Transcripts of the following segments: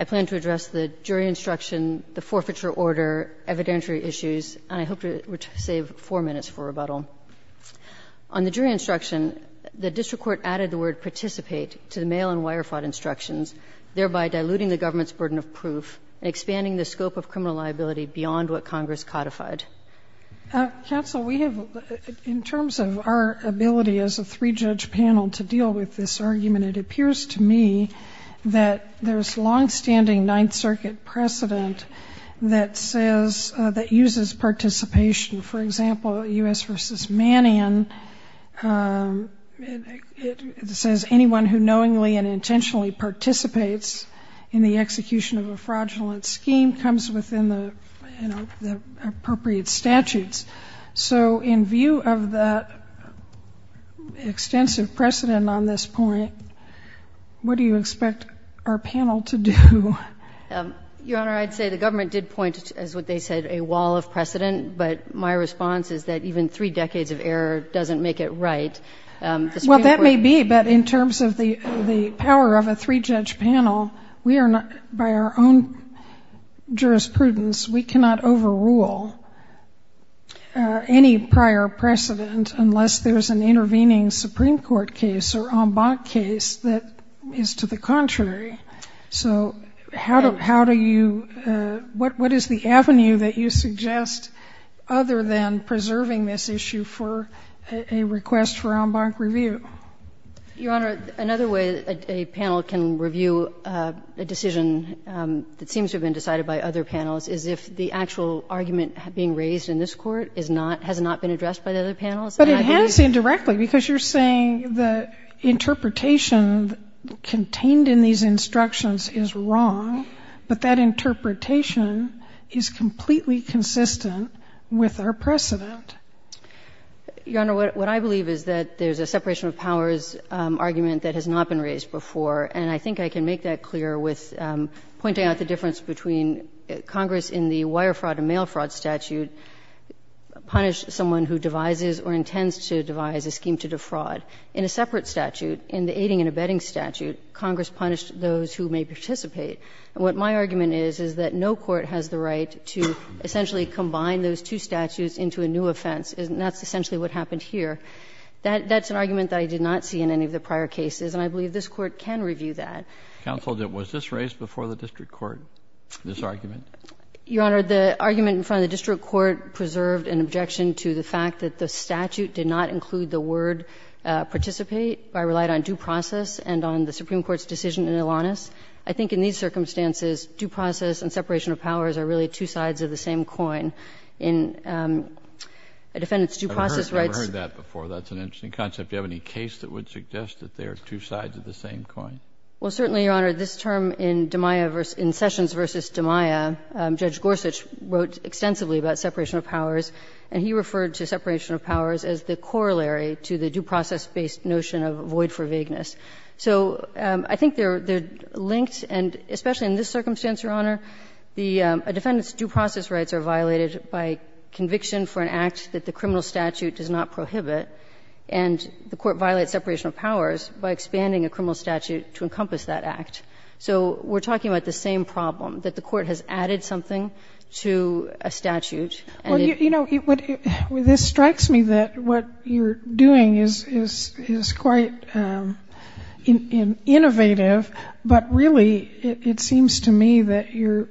I plan to address the jury instruction, the forfeiture order, evidentiary issues, and I hope to save four minutes for rebuttal. On the jury instruction, the district court added the word participate to the mail-in wire fraud instructions, thereby diluting the government's burden of proof and expanding the scope of criminal liability beyond what Congress codified. Counsel, we have, as I understand it, we have in terms of our ability as a three-judge panel to deal with this argument, it appears to me that there's long-standing Ninth Circuit precedent that says, that uses participation. For example, U.S. v. Mannion, it says anyone who knowingly and intentionally participates in the execution of a fraudulent scheme comes within the appropriate statutes. So in view of that extensive precedent on this point, what do you expect our panel to do? Your Honor, I'd say the government did point to, as what they said, a wall of precedent, but my response is that even three decades of error doesn't make it right. Well, that may be, but in terms of the power of a three-judge panel, we are not, by our own jurisprudence, we cannot overrule any prior precedent unless there's an intervening Supreme Court case or en banc case that is to the contrary. So how do you, what is the avenue that you suggest other than preserving this issue for a request for en banc review? Your Honor, another way a panel can review a decision that seems to have been decided by other panels is if the actual argument being raised in this Court is not, has not been addressed by the other panels. But it has indirectly, because you're saying the interpretation contained in these instructions is wrong, but that interpretation is completely consistent with our precedent. Your Honor, what I believe is that there's a separation of powers argument that has not been raised before, and I think I can make that clear with pointing out the difference between Congress, in the wire fraud and mail fraud statute, punished someone who devises or intends to devise a scheme to defraud. In a separate statute, in the aiding and abetting statute, Congress punished those who may participate. And what my argument is, is that no court has the right to essentially combine those two statutes into a new offense, and that's essentially what happened here. That's an argument that I did not see in any of the prior cases, and I believe this Court can review that. Counsel, was this raised before the district court, this argument? Your Honor, the argument in front of the district court preserved an objection to the fact that the statute did not include the word participate. I relied on due process and on the Supreme Court's decision in Alanis. I think in these circumstances, due process and separation of powers are really two sides of the same coin. In a defendant's due process rights. I've heard that before. That's an interesting concept. Do you have any case that would suggest that they are two sides of the same coin? Well, certainly, Your Honor. This term in Demeyer versus — in Sessions v. Demeyer, Judge Gorsuch wrote extensively about separation of powers, and he referred to separation of powers as the corollary to the due process-based notion of void for vagueness. So I think they're linked, and especially in this circumstance, Your Honor, a defendant's due process rights are violated by conviction for an act that the criminal statute does not prohibit, and the court violates separation of powers by expanding a criminal statute to encompass that act. So we're talking about the same problem, that the court has added something to a statute and it — Well, you know, this strikes me that what you're doing is quite innovative, but really it seems to me that you're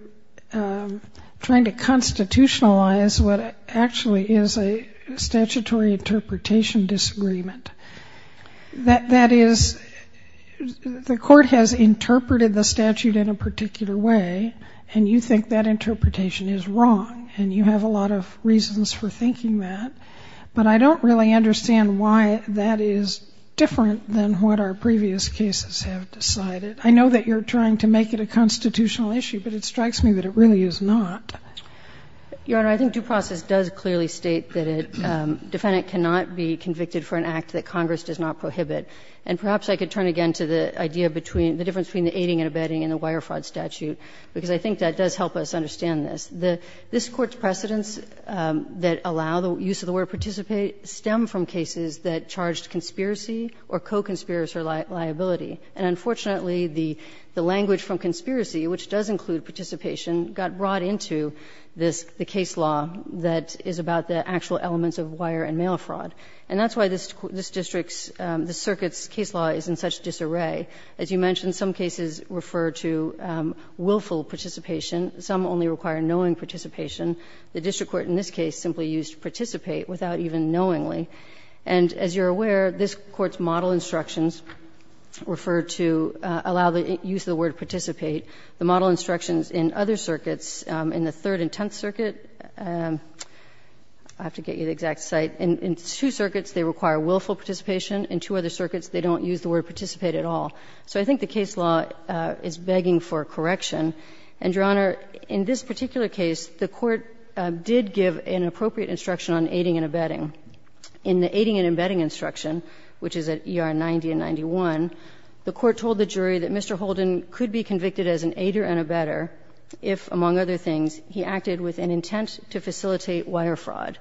trying to constitutionalize what actually is a statutory interpretation disagreement. That is, the court has interpreted the statute in a particular way, and you think that interpretation is wrong, and you have a lot of reasons for thinking that, but I don't really understand why that is different than what our previous cases have decided. I know that you're trying to make it a constitutional issue, but it strikes me that it really is not. Your Honor, I think due process does clearly state that a defendant cannot be convicted for an act that Congress does not prohibit. And perhaps I could turn again to the idea between — the difference between the aiding and abetting and the wire fraud statute, because I think that does help us understand this. This Court's precedents that allow the use of the word participate stem from cases that charged conspiracy or co-conspirator liability. And unfortunately, the language from conspiracy, which does include participation, got brought into this, the case law that is about the actual elements of wire and mail fraud. And that's why this district's, this circuit's case law is in such disarray. As you mentioned, some cases refer to willful participation. Some only require knowing participation. The district court in this case simply used participate without even knowingly. And as you're aware, this Court's model instructions refer to allow the use of the word participate. The model instructions in other circuits, in the Third and Tenth Circuit — I have to get you the exact site — in two circuits, they require willful participation. In two other circuits, they don't use the word participate at all. So I think the case law is begging for correction. And, Your Honor, in this particular case, the Court did give an appropriate instruction on aiding and abetting. In the aiding and abetting instruction, which is at ER 90 and 91, the Court told the jury that Mr. Holden could be convicted as an aider and abetter if, among other things, he acted with an intent to facilitate wire fraud.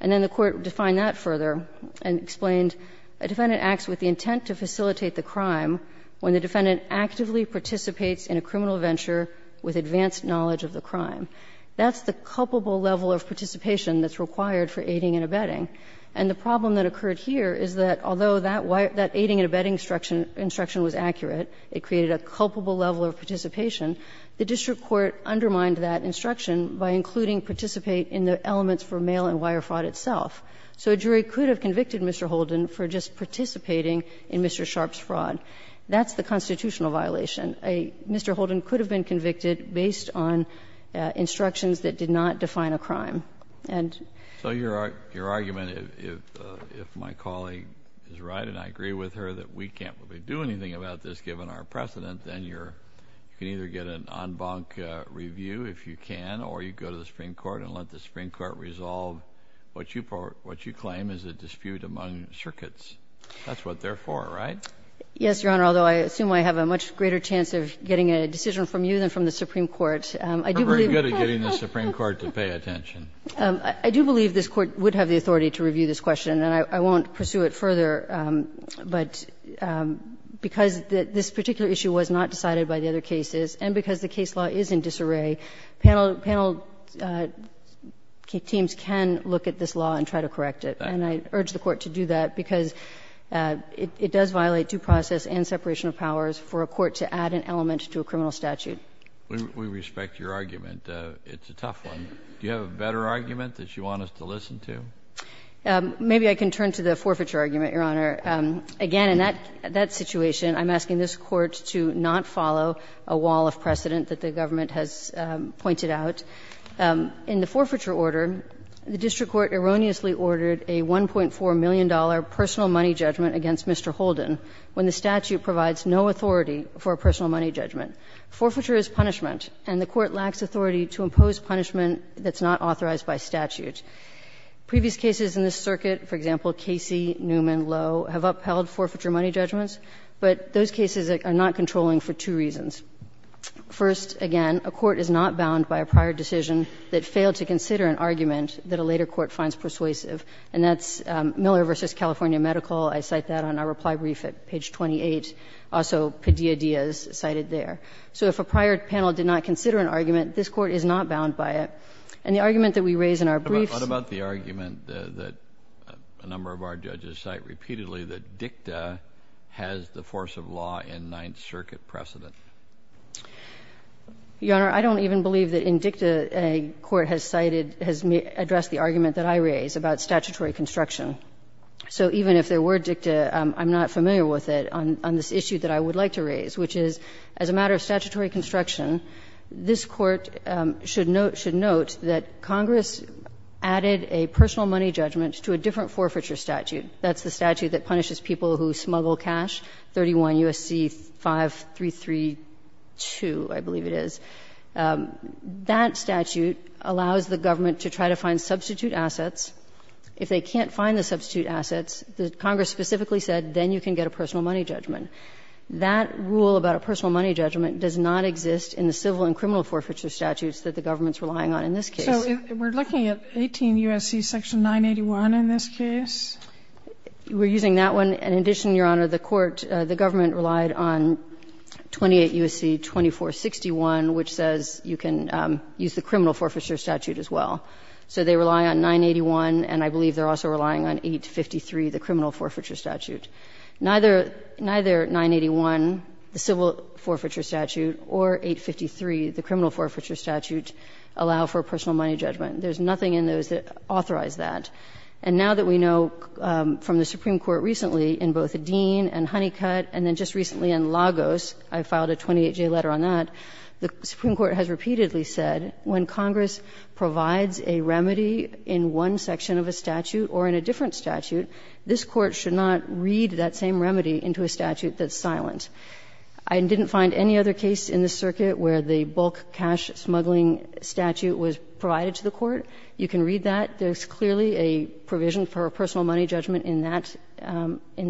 And then the Court defined that further and explained a defendant acts with the intent to facilitate the crime when the defendant actively participates in a criminal venture with advanced knowledge of the crime. That's the culpable level of participation that's required for aiding and abetting. And the problem that occurred here is that although that aiding and abetting instruction was accurate, it created a culpable level of participation, the district court undermined that instruction by including participate in the elements for mail and wire fraud itself. That's the constitutional violation. Mr. Holden could have been convicted based on instructions that did not define a crime. And so your argument, if my colleague is right and I agree with her that we can't really do anything about this given our precedent, then you can either get an en banc review if you can, or you go to the Supreme Court and let the Supreme Court resolve what you claim is a dispute among circuits. That's what they're for, right? Yes, Your Honor, although I assume I have a much greater chance of getting a decision from you than from the Supreme Court. I'm very good at getting the Supreme Court to pay attention. I do believe this Court would have the authority to review this question, and I won't pursue it further. But because this particular issue was not decided by the other cases and because the case law is in disarray, panel teams can look at this law and try to correct it. And I urge the Court to do that, because it does violate due process and separation of powers for a court to add an element to a criminal statute. We respect your argument. It's a tough one. Do you have a better argument that you want us to listen to? Maybe I can turn to the forfeiture argument, Your Honor. Again, in that situation, I'm asking this Court to not follow a wall of precedent that the government has pointed out. In the forfeiture order, the district court erroneously ordered a $1.4 million personal money judgment against Mr. Holden when the statute provides no authority for a personal money judgment. Forfeiture is punishment, and the court lacks authority to impose punishment that's not authorized by statute. Previous cases in this circuit, for example, Casey, Newman, Lowe, have upheld forfeiture money judgments, but those cases are not controlling for two reasons. First, again, a court is not bound by a prior decision that failed to consider an argument that a later court finds persuasive. And that's Miller v. California Medical. I cite that on our reply brief at page 28. Also, Padilla-Diaz cited there. So if a prior panel did not consider an argument, this Court is not bound by it. And the argument that we raise in our briefs— What about the argument that a number of our judges cite repeatedly, that DICTA has the force of law in Ninth Circuit precedent? Your Honor, I don't even believe that in DICTA a court has cited, has addressed the argument that I raise about statutory construction. So even if there were DICTA, I'm not familiar with it on this issue that I would like to raise, which is, as a matter of statutory construction, this Court should note that Congress added a personal money judgment to a different forfeiture statute. That's the statute that punishes people who smuggle cash, 31 U.S.C. 5332, I believe it is. That statute allows the government to try to find substitute assets. If they can't find the substitute assets, Congress specifically said, then you can get a personal money judgment. That rule about a personal money judgment does not exist in the civil and criminal forfeiture statutes that the government's relying on in this case. So we're looking at 18 U.S.C. section 981 in this case? We're using that one. And in addition, Your Honor, the court, the government relied on 28 U.S.C. 2461, which says you can use the criminal forfeiture statute as well. So they rely on 981, and I believe they're also relying on 853, the criminal forfeiture statute. Neither 981, the civil forfeiture statute, or 853, the criminal forfeiture statute, allow for a personal money judgment. There's nothing in those that authorize that. And now that we know from the Supreme Court recently in both Dean and Honeycut and then just recently in Lagos, I filed a 28-J letter on that, the Supreme Court has repeatedly said when Congress provides a remedy in one section of a statute or in a different statute, this Court should not read that same remedy into a statute that's silent. I didn't find any other case in this circuit where the bulk cash smuggling statute was provided to the Court. You can read that. There's clearly a provision for a personal money judgment in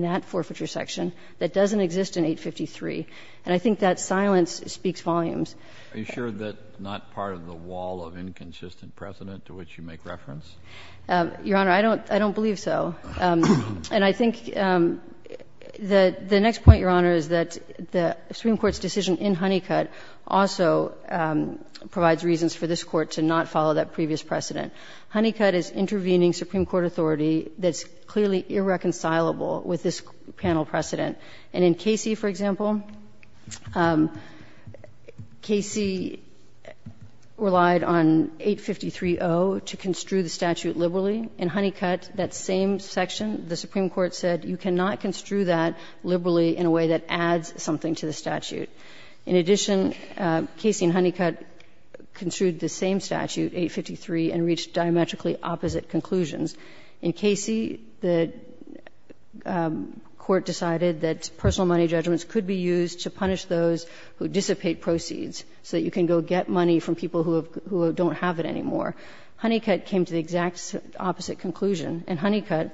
that forfeiture section that doesn't exist in 853. And I think that silence speaks volumes. Are you sure that's not part of the wall of inconsistent precedent to which you make reference? Your Honor, I don't believe so. And I think the next point, Your Honor, is that the Supreme Court's decision in Honeycut also provides reasons for this Court to not follow that previous precedent. Honeycut is intervening Supreme Court authority that's clearly irreconcilable with this panel precedent. And in Casey, for example, Casey relied on 853.0 to construe the statute liberally. In Honeycut, that same section, the Supreme Court said you cannot construe that liberally in a way that adds something to the statute. In addition, Casey and Honeycut construed the same statute, 853, and reached diametrically opposite conclusions. In Casey, the Court decided that personal money judgments could be used to punish those who dissipate proceeds so that you can go get money from people who don't have it anymore. Honeycut came to the exact opposite conclusion. In Honeycut,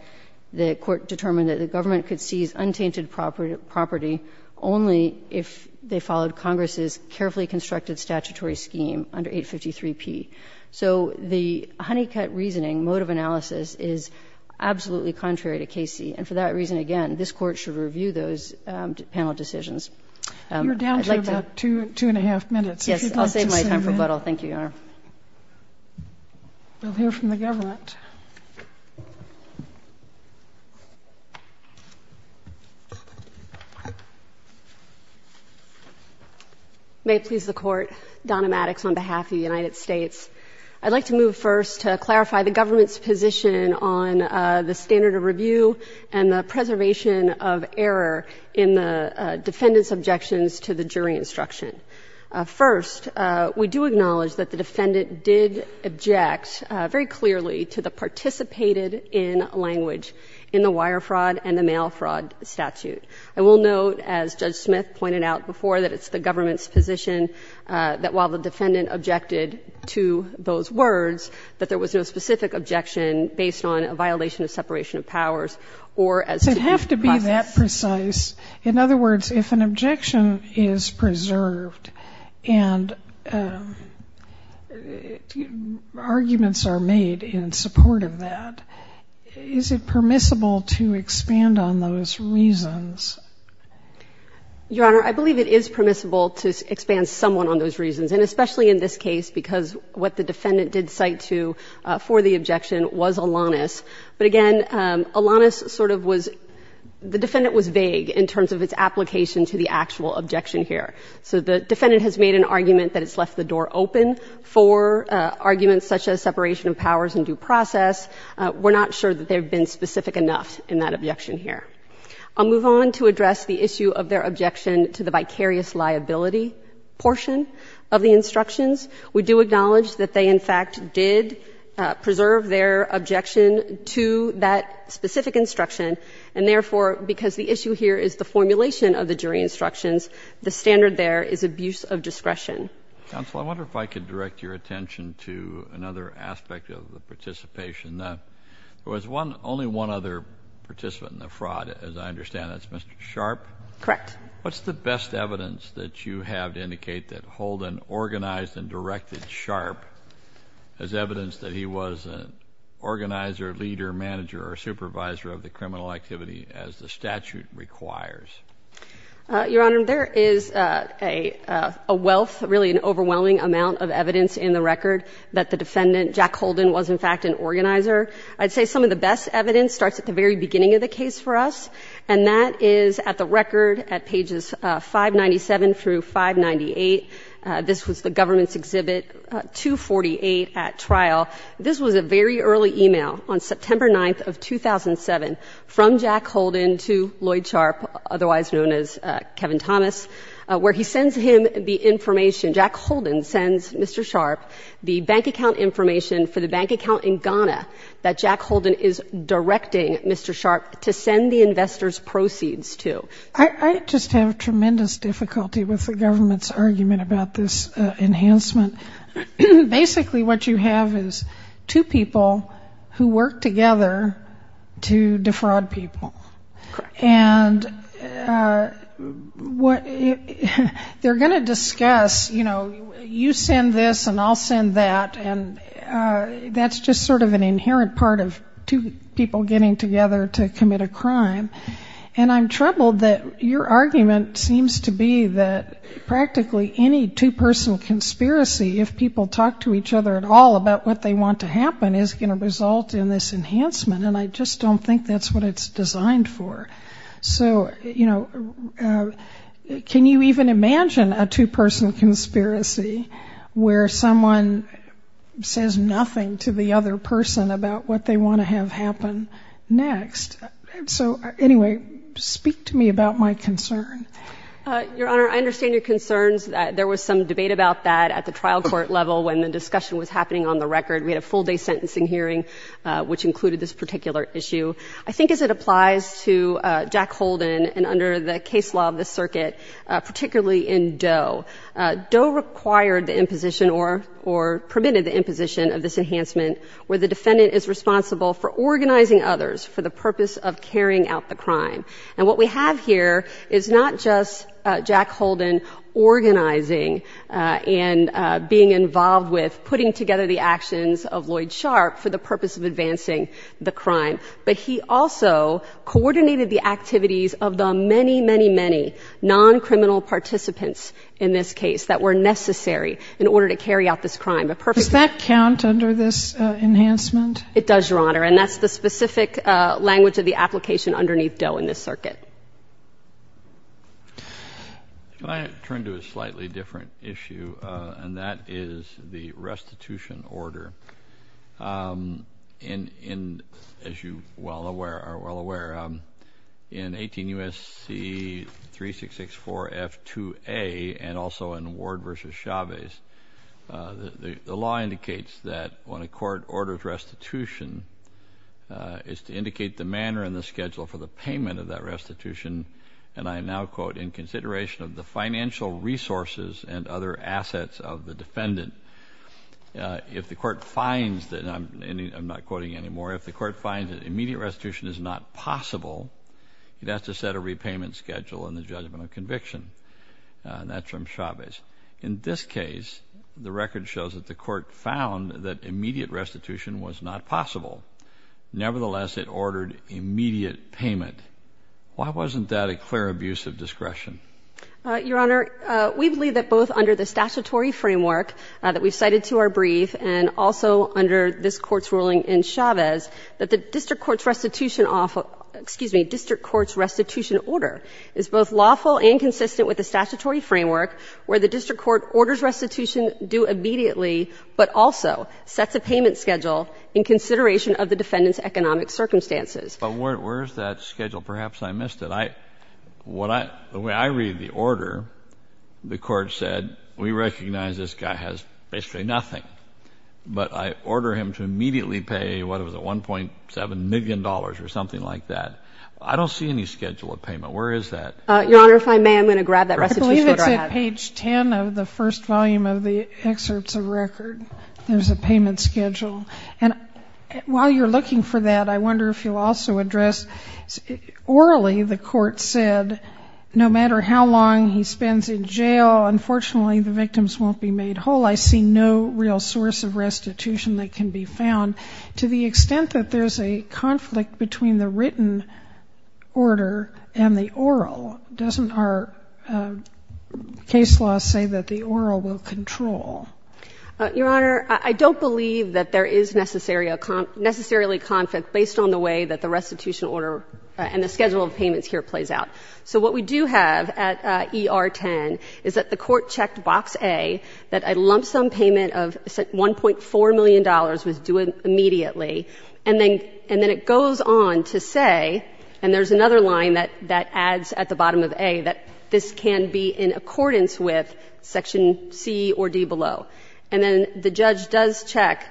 the Court determined that the government could seize untainted property only if they followed Congress's carefully constructed statutory scheme under 853.0p. So the Honeycut reasoning, mode of analysis, is absolutely contrary to Casey. And for that reason, again, this Court should review those panel decisions. I'd like to go back to 2 1⁄2 minutes, if you'd like to submit. Yes, I'll save my time for rebuttal. Thank you, Your Honor. We'll hear from the government. May it please the Court. Donna Maddox on behalf of the United States. I'd like to move first to clarify the government's position on the standard of review and the preservation of error in the defendant's objections to the jury instruction. First, we do acknowledge that the defendant did object very clearly to the participated in language in the wire fraud and the mail fraud statute. I will note, as Judge Smith pointed out before, that it's the government's position that while the defendant objected to those words, that there was no specific objection based on a violation of separation of powers or as to the process. So you have to be that precise. In other words, if an objection is preserved and arguments are made in support of that, is it permissible to expand on those reasons? Your Honor, I believe it is permissible to expand someone on those reasons, and especially in this case because what the defendant did cite to for the objection was Alanis. But again, Alanis sort of was — the defendant was vague in terms of its application to the actual objection here. So the defendant has made an argument that it's left the door open for arguments such as separation of powers and due process. We're not sure that they've been specific enough in that objection here. I'll move on to address the issue of their objection to the vicarious liability portion of the instructions. We do acknowledge that they, in fact, did preserve their objection to that specific instruction. And therefore, because the issue here is the formulation of the jury instructions, the standard there is abuse of discretion. Counsel, I wonder if I could direct your attention to another aspect of the participation. There was one — only one other participant in the fraud, as I understand. That's Mr. Sharpe? Correct. What's the best evidence that you have to indicate that Holden organized and directed Sharpe as evidence that he was an organizer, leader, manager, or supervisor of the criminal activity as the statute requires? Your Honor, there is a wealth, really an overwhelming amount of evidence in the record that the defendant, Jack Holden, was in fact an organizer. I'd say some of the best evidence starts at the very beginning of the case for us, and that is at the record at pages 597 through 598. This was the government's exhibit 248 at trial. This was a very early email on September 9th of 2007 from Jack Holden to Lloyd Sharpe, otherwise known as Kevin Thomas, where he sends him the information. Jack Holden sends Mr. Sharpe the bank account information for the bank account in Ghana that Jack Holden is directing Mr. Sharpe to send the investor's proceeds to. I just have tremendous difficulty with the government's argument about this enhancement. Basically, what you have is two people who work together to defraud people. Correct. And they're going to discuss, you know, you send this and I'll send that, and that's just sort of an inherent part of two people getting together to commit a crime. And I'm troubled that your argument seems to be that practically any two-person conspiracy, if people talk to each other at all about what they want to happen, is going to result in this enhancement, and I just don't think that's what it's designed for. So, you know, can you even imagine a two-person conspiracy where someone says nothing to the other person about what they want to have happen next? So, anyway, speak to me about my concern. Your Honor, I understand your concerns. There was some debate about that at the trial court level when the discussion was happening on the record. We had a full-day sentencing hearing, which included this particular issue. I think as it applies to Jack Holden and under the case law of the circuit, particularly in Doe, Doe required the imposition or permitted the imposition of this enhancement where the defendant is responsible for organizing others for the purpose of carrying out the crime. And what we have here is not just Jack Holden organizing and being involved with putting together the actions of Lloyd Sharp for the purpose of advancing the crime, but he also coordinated the activities of the many, many, many non-criminal participants in this case that were necessary in order to carry out this crime. Does that count under this enhancement? It does, Your Honor, and that's the specific language of the application underneath Doe in this circuit. Can I turn to a slightly different issue, and that is the restitution order. As you are well aware, in 18 U.S.C. 3664 F.2.A. and also in Ward v. Chavez, the law indicates that when a court orders restitution, it's to indicate the manner and the schedule for the payment of that restitution, and I now quote, in consideration of the financial resources and other assets of the defendant. If the court finds that, and I'm not quoting anymore, if the court finds that immediate restitution is not possible, it has to set a repayment schedule in the judgment of conviction. And that's from Chavez. In this case, the record shows that the court found that immediate restitution was not possible. Nevertheless, it ordered immediate payment. Why wasn't that a clear abuse of discretion? Your Honor, we believe that both under the statutory framework that we cited to our brief and also under this Court's ruling in Chavez, that the district court's restitution order is both lawful and consistent with the statutory framework where the district court orders restitution due immediately, but also sets a payment schedule in consideration of the defendant's economic circumstances. But where is that schedule? Perhaps I missed it. The way I read the order, the court said we recognize this guy has basically nothing, but I order him to immediately pay, what is it, $1.7 million or something like that. I don't see any schedule of payment. Where is that? Your Honor, if I may, I'm going to grab that restitution order I have. It's on page 10 of the first volume of the excerpts of record. There's a payment schedule. And while you're looking for that, I wonder if you'll also address, orally the court said, no matter how long he spends in jail, unfortunately, the victims won't be made whole. I see no real source of restitution that can be found. To the extent that there's a conflict between the written order and the oral, doesn't our case law say that the oral will control? Your Honor, I don't believe that there is necessarily a conflict based on the way that the restitution order and the schedule of payments here plays out. So what we do have at ER-10 is that the court checked box A, that a lump sum payment of $1.4 million was due immediately, and then it goes on to say, and there's another line that adds at the bottom of A, that this can be in accordance with section C or D below. And then the judge does check,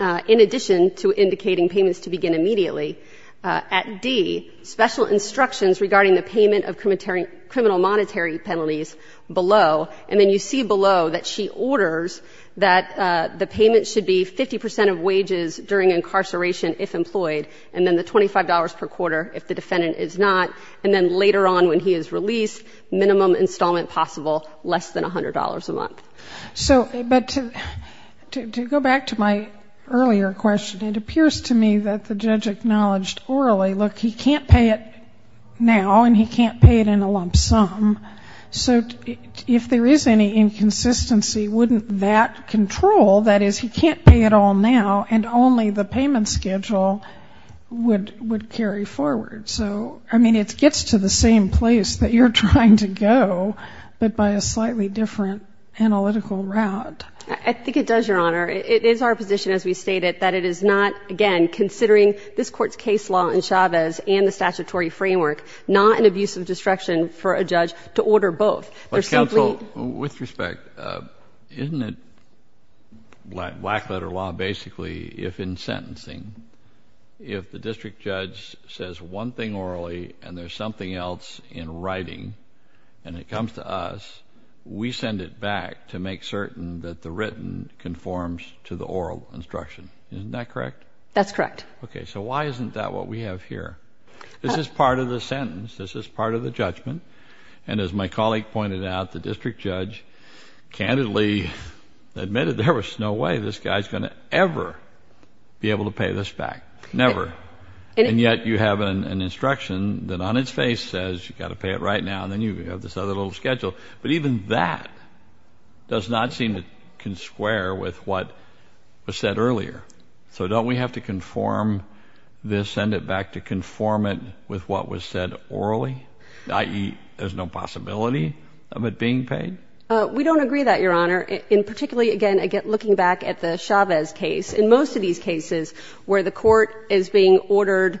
in addition to indicating payments to begin immediately, at D, special instructions regarding the payment of criminal monetary penalties below, and then you see below that she orders that the payment should be 50 percent of wages during incarceration if employed, and then the $25 per quarter if the defendant is not, and then later on when he is released, minimum installment possible, less than $100 a month. So, but to go back to my earlier question, it appears to me that the judge acknowledged orally, look, he can't pay it now, and he can't pay it in a lump sum, so if there is any inconsistency, wouldn't that control, that is, he can't pay it all now and only the payment schedule would carry forward? So, I mean, it gets to the same place that you're trying to go, but by a slightly different analytical route. I think it does, Your Honor. It is our position, as we stated, that it is not, again, considering this Court's case law in Chavez and the statutory framework, not an abuse of discretion for a judge to order both. But counsel, with respect, isn't it, black letter law, basically, if in sentencing, if the district judge says one thing orally and there is something else in writing and it comes to us, we send it back to make certain that the written conforms to the oral instruction. Isn't that correct? That's correct. Okay, so why isn't that what we have here? This is part of the sentence. This is part of the judgment. And as my colleague pointed out, the district judge candidly admitted there was no way this guy's going to ever be able to pay this back, never. And yet, you have an instruction that on its face says you've got to pay it right now, and then you have this other little schedule. But even that does not seem to consquare with what was said earlier. So don't we have to conform this, send it back to conform it with what was said orally, i.e., there's no possibility of it being paid? We don't agree with that, Your Honor. And particularly, again, looking back at the Chavez case, in most of these cases where the court is being ordered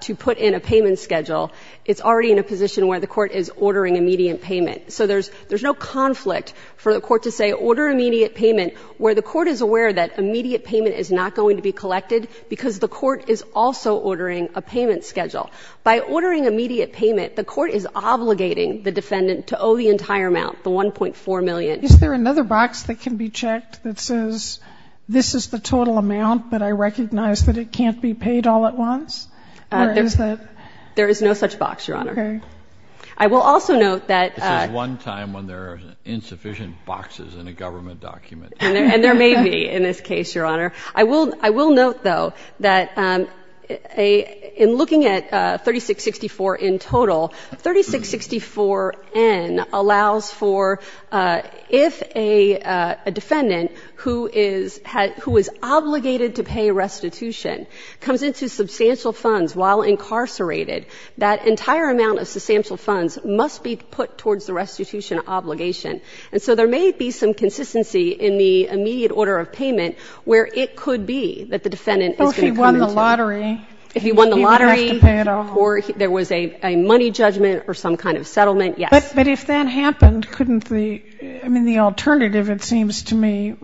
to put in a payment schedule, it's already in a position where the court is ordering immediate payment. So there's no conflict for the court to say order immediate payment where the court is aware that immediate payment is not going to be collected because the court is also ordering a payment schedule. By ordering immediate payment, the court is obligating the defendant to owe the entire amount, the $1.4 million. Is there another box that can be checked that says this is the total amount, but I recognize that it can't be paid all at once? Or is that? There is no such box, Your Honor. Okay. I will also note that — This is one time when there are insufficient boxes in a government document. And there may be in this case, Your Honor. I will note, though, that in looking at 3664 in total, 3664N allows for if a defendant who is obligated to pay restitution comes into substantial funds while incarcerated, that entire amount of substantial funds must be put towards the restitution obligation. And so there may be some consistency in the immediate order of payment where it could be that the defendant is going to come into — Well, if he won the lottery. If he won the lottery. He didn't have to pay it all. Or there was a money judgment or some kind of settlement, yes. But if that happened, couldn't the — I mean, the alternative, it seems to me,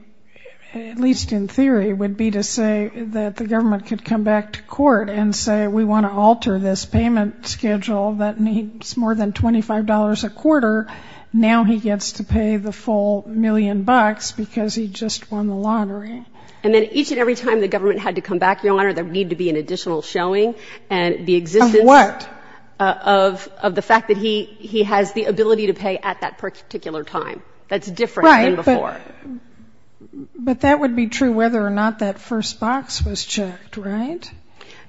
at least in theory, would be to say that the government could come back to court and say we want to alter this payment schedule that needs more than $25 a quarter. Now he gets to pay the full million bucks because he just won the lottery. And then each and every time the government had to come back, Your Honor, there would need to be an additional showing and the existence — Of what? Of the fact that he has the ability to pay at that particular time. That's different than before. Right. But that would be true whether or not that first box was checked, right?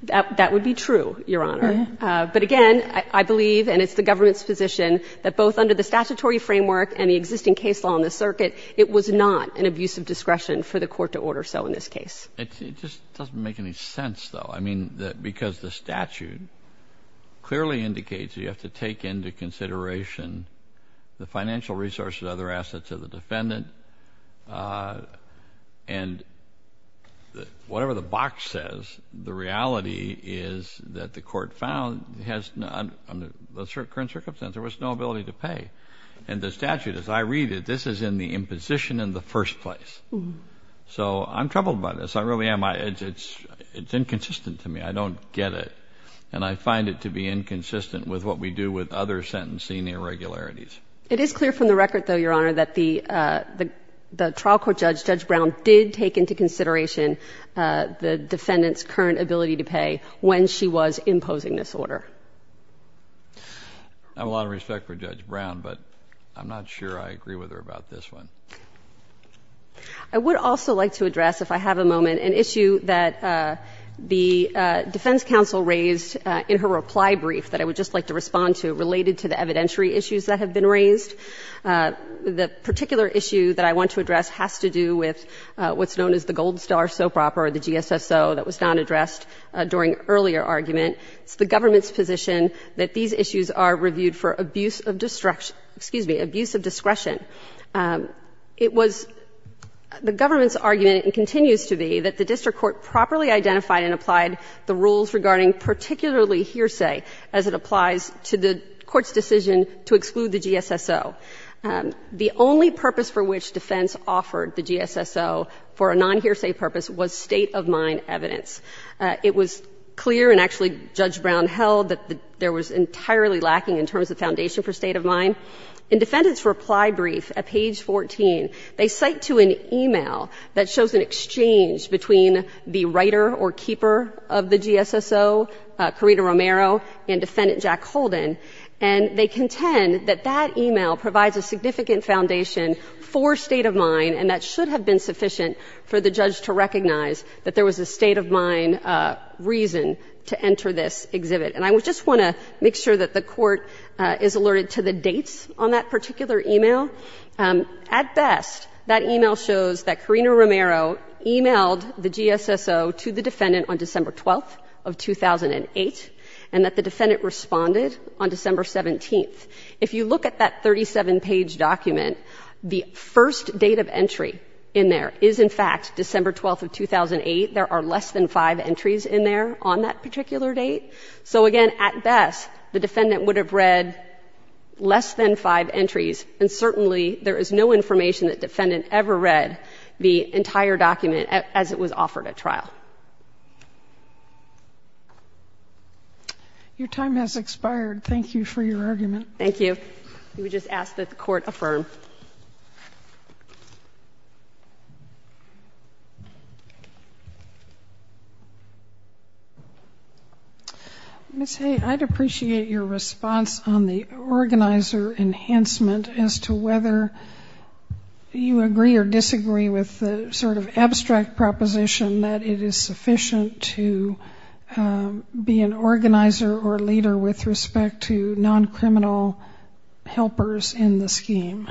That would be true, Your Honor. But again, I believe, and it's the government's position, that both under the statutory framework and the existing case law in the circuit, it was not an abuse of discretion for the court to order so in this case. It just doesn't make any sense, though. I mean, because the statute clearly indicates you have to take into consideration the financial resources and other assets of the defendant. And whatever the box says, the reality is that the court found, under the current circumstance, there was no ability to pay. And the statute, as I read it, this is in the imposition in the first place. So I'm troubled by this. I really am. It's inconsistent to me. I don't get it. And I find it to be inconsistent with what we do with other sentencing irregularities. It is clear from the record, though, Your Honor, that the trial court judge, Judge Brown, did take into consideration the defendant's current ability to pay when she was imposing this order. I have a lot of respect for Judge Brown, but I'm not sure I agree with her about this one. I would also like to address, if I have a moment, an issue that the defense counsel raised in her reply brief that I would just like to respond to related to the evidentiary issues that have been raised. The particular issue that I want to address has to do with what's known as the gold star soap opera, the GSSO, that was not addressed during earlier argument. It's the government's position that these issues are reviewed for abuse of discretion. It was the government's argument, and continues to be, that the district court properly identified and applied the rules regarding particularly hearsay as it applies to the GSSO. The only purpose for which defense offered the GSSO for a non-hearsay purpose was state-of-mind evidence. It was clear, and actually Judge Brown held, that there was entirely lacking in terms of foundation for state-of-mind. In defendant's reply brief at page 14, they cite to an e-mail that shows an exchange between the writer or keeper of the GSSO, Corrina Romero, and Defendant Jack Holden, and they contend that that e-mail provides a significant foundation for state-of-mind, and that should have been sufficient for the judge to recognize that there was a state-of-mind reason to enter this exhibit. And I just want to make sure that the Court is alerted to the dates on that particular e-mail. At best, that e-mail shows that Corrina Romero e-mailed the GSSO to the defendant on December 17th. If you look at that 37-page document, the first date of entry in there is, in fact, December 12th of 2008. There are less than five entries in there on that particular date. So again, at best, the defendant would have read less than five entries, and certainly there is no information that defendant ever read the entire document as it was offered at trial. Your time has expired. Thank you for your argument. Thank you. We would just ask that the Court affirm. Ms. Hay, I'd appreciate your response on the organizer enhancement as to whether you agree or disagree with the sort of abstract proposition that it is sufficient to be an organizer or leader with respect to non-criminal helpers in the scheme.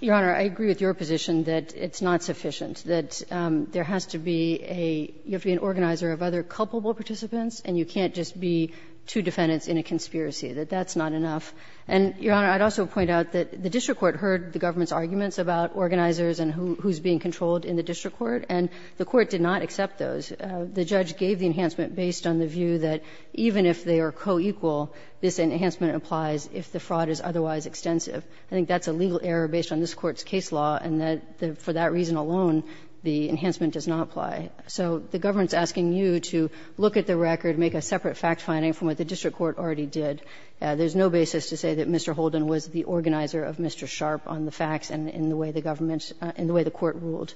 Your Honor, I agree with your position that it's not sufficient, that there has to be a — you have to be an organizer of other culpable participants, and you can't just be two defendants in a conspiracy, that that's not enough. And, Your Honor, I'd also point out that the district court heard the government's arguments about organizers and who's being controlled in the district court, and the court did not accept those. The judge gave the enhancement based on the view that even if they are co-equal, this enhancement applies if the fraud is otherwise extensive. I think that's a legal error based on this Court's case law, and that for that reason alone, the enhancement does not apply. So the government's asking you to look at the record, make a separate fact-finding from what the district court already did. There's no basis to say that Mr. Holden was the organizer of Mr. Sharp on the facts and in the way the government — in the way the court ruled.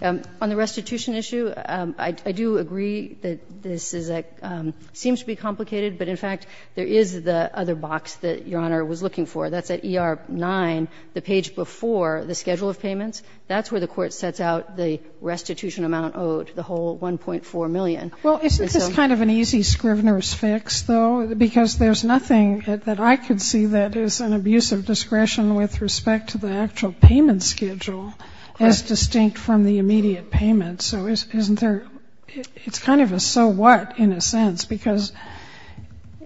On the restitution issue, I do agree that this is a — seems to be complicated, but in fact, there is the other box that Your Honor was looking for. That's at ER 9, the page before the schedule of payments. That's where the court sets out the restitution amount owed, the whole $1.4 million. Well, isn't this kind of an easy Scrivener's fix, though? Because there's nothing that I could see that is an abuse of discretion with respect to the actual payment schedule as distinct from the immediate payment. So isn't there — it's kind of a so what, in a sense, because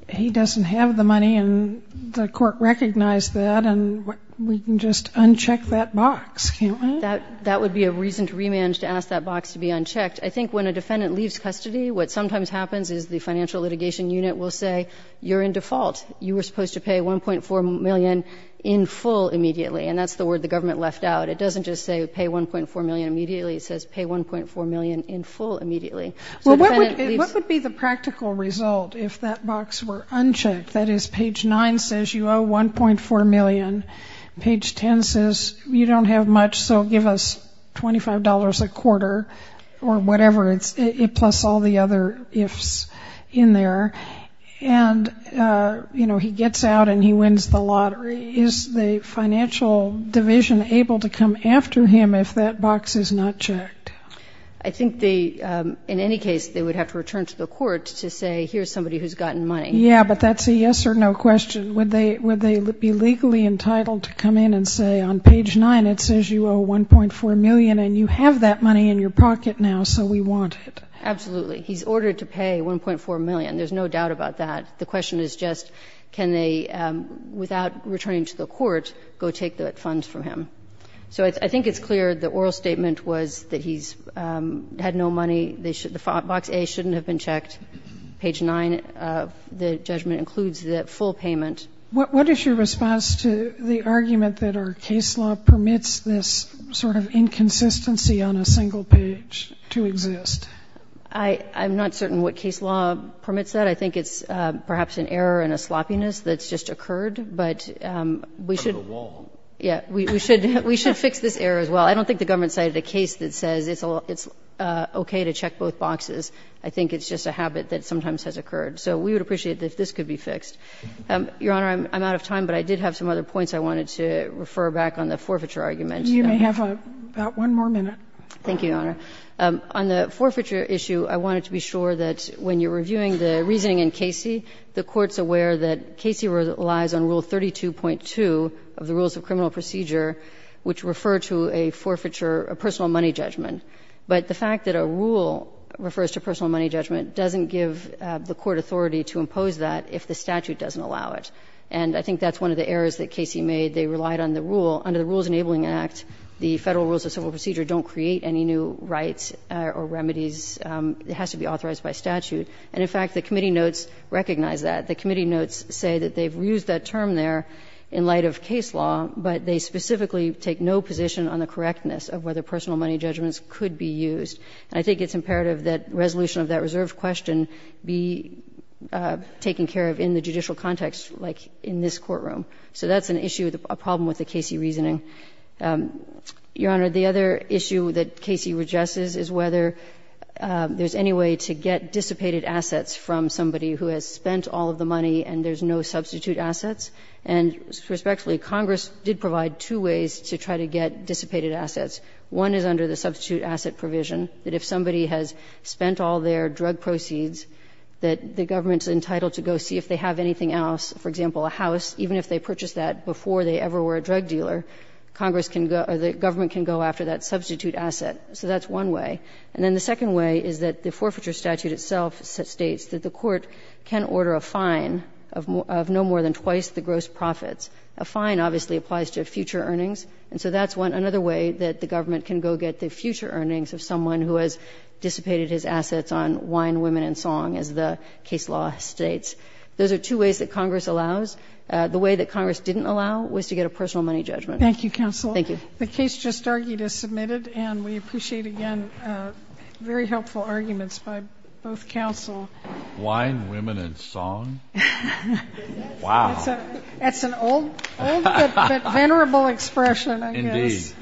he doesn't have the money and the court recognized that, and we can just uncheck that box, can't we? That would be a reason to remand to ask that box to be unchecked. I think when a defendant leaves custody, what sometimes happens is the financial litigation unit will say, you're in default. You were supposed to pay $1.4 million in full immediately. And that's the word the government left out. It doesn't just say pay $1.4 million immediately. It says pay $1.4 million in full immediately. What would be the practical result if that box were unchecked? That is, page 9 says you owe $1.4 million, page 10 says you don't have much, so give us $25 a quarter or whatever, plus all the other ifs in there. And, you know, he gets out and he wins the lottery. Is the financial division able to come after him if that box is not checked? I think in any case they would have to return to the court to say, here's somebody who's gotten money. Yeah, but that's a yes or no question. Would they be legally entitled to come in and say on page 9 it says you owe $1.4 million and you have that money in your pocket now, so we want it? Absolutely. He's ordered to pay $1.4 million. There's no doubt about that. The question is just can they, without returning to the court, go take the funds from him. So I think it's clear the oral statement was that he's had no money. Box A shouldn't have been checked. Page 9 of the judgment includes the full payment. What is your response to the argument that our case law permits this sort of inconsistency on a single page to exist? I'm not certain what case law permits that. I think it's perhaps an error and a sloppiness that's just occurred. But we should. We should fix this error as well. I don't think the government cited a case that says it's okay to check both boxes. I think it's just a habit that sometimes has occurred. So we would appreciate that this could be fixed. Your Honor, I'm out of time, but I did have some other points I wanted to refer back on the forfeiture argument. You may have about one more minute. Thank you, Your Honor. On the forfeiture issue, I wanted to be sure that when you're reviewing the reasoning in Casey, the Court's aware that Casey relies on Rule 32.2 of the Rules of Criminal Procedure, which refer to a forfeiture, a personal money judgment. But the fact that a rule refers to personal money judgment doesn't give the court authority to impose that if the statute doesn't allow it. And I think that's one of the errors that Casey made. They relied on the rule. Under the Rules Enabling Act, the Federal Rules of Civil Procedure don't create any new rights or remedies. It has to be authorized by statute. And in fact, the committee notes recognize that. The committee notes say that they've reused that term there in light of case law, but they specifically take no position on the correctness of whether personal money judgments could be used. And I think it's imperative that resolution of that reserved question be taken care of in the judicial context, like in this courtroom. So that's an issue, a problem with the Casey reasoning. Your Honor, the other issue that Casey addresses is whether there's any way to get dissipated assets from somebody who has spent all of the money and there's no substitute assets. And respectfully, Congress did provide two ways to try to get dissipated assets. One is under the substitute asset provision, that if somebody has spent all their drug proceeds, that the government's entitled to go see if they have anything else, for example, a house, even if they purchased that before they ever were a drug dealer, Congress can go or the government can go after that substitute asset. So that's one way. And then the second way is that the forfeiture statute itself states that the court can order a fine of no more than twice the gross profits. A fine obviously applies to future earnings. And so that's another way that the government can go get the future earnings of someone who has dissipated his assets on wine, women, and song, as the case law states. Those are two ways that Congress allows. The way that Congress didn't allow was to get a personal money judgment. Thank you, counsel. Thank you. The case just argued is submitted, and we appreciate, again, very helpful arguments by both counsel. Wine, women, and song? Wow. That's an old but venerable expression, I guess. Indeed.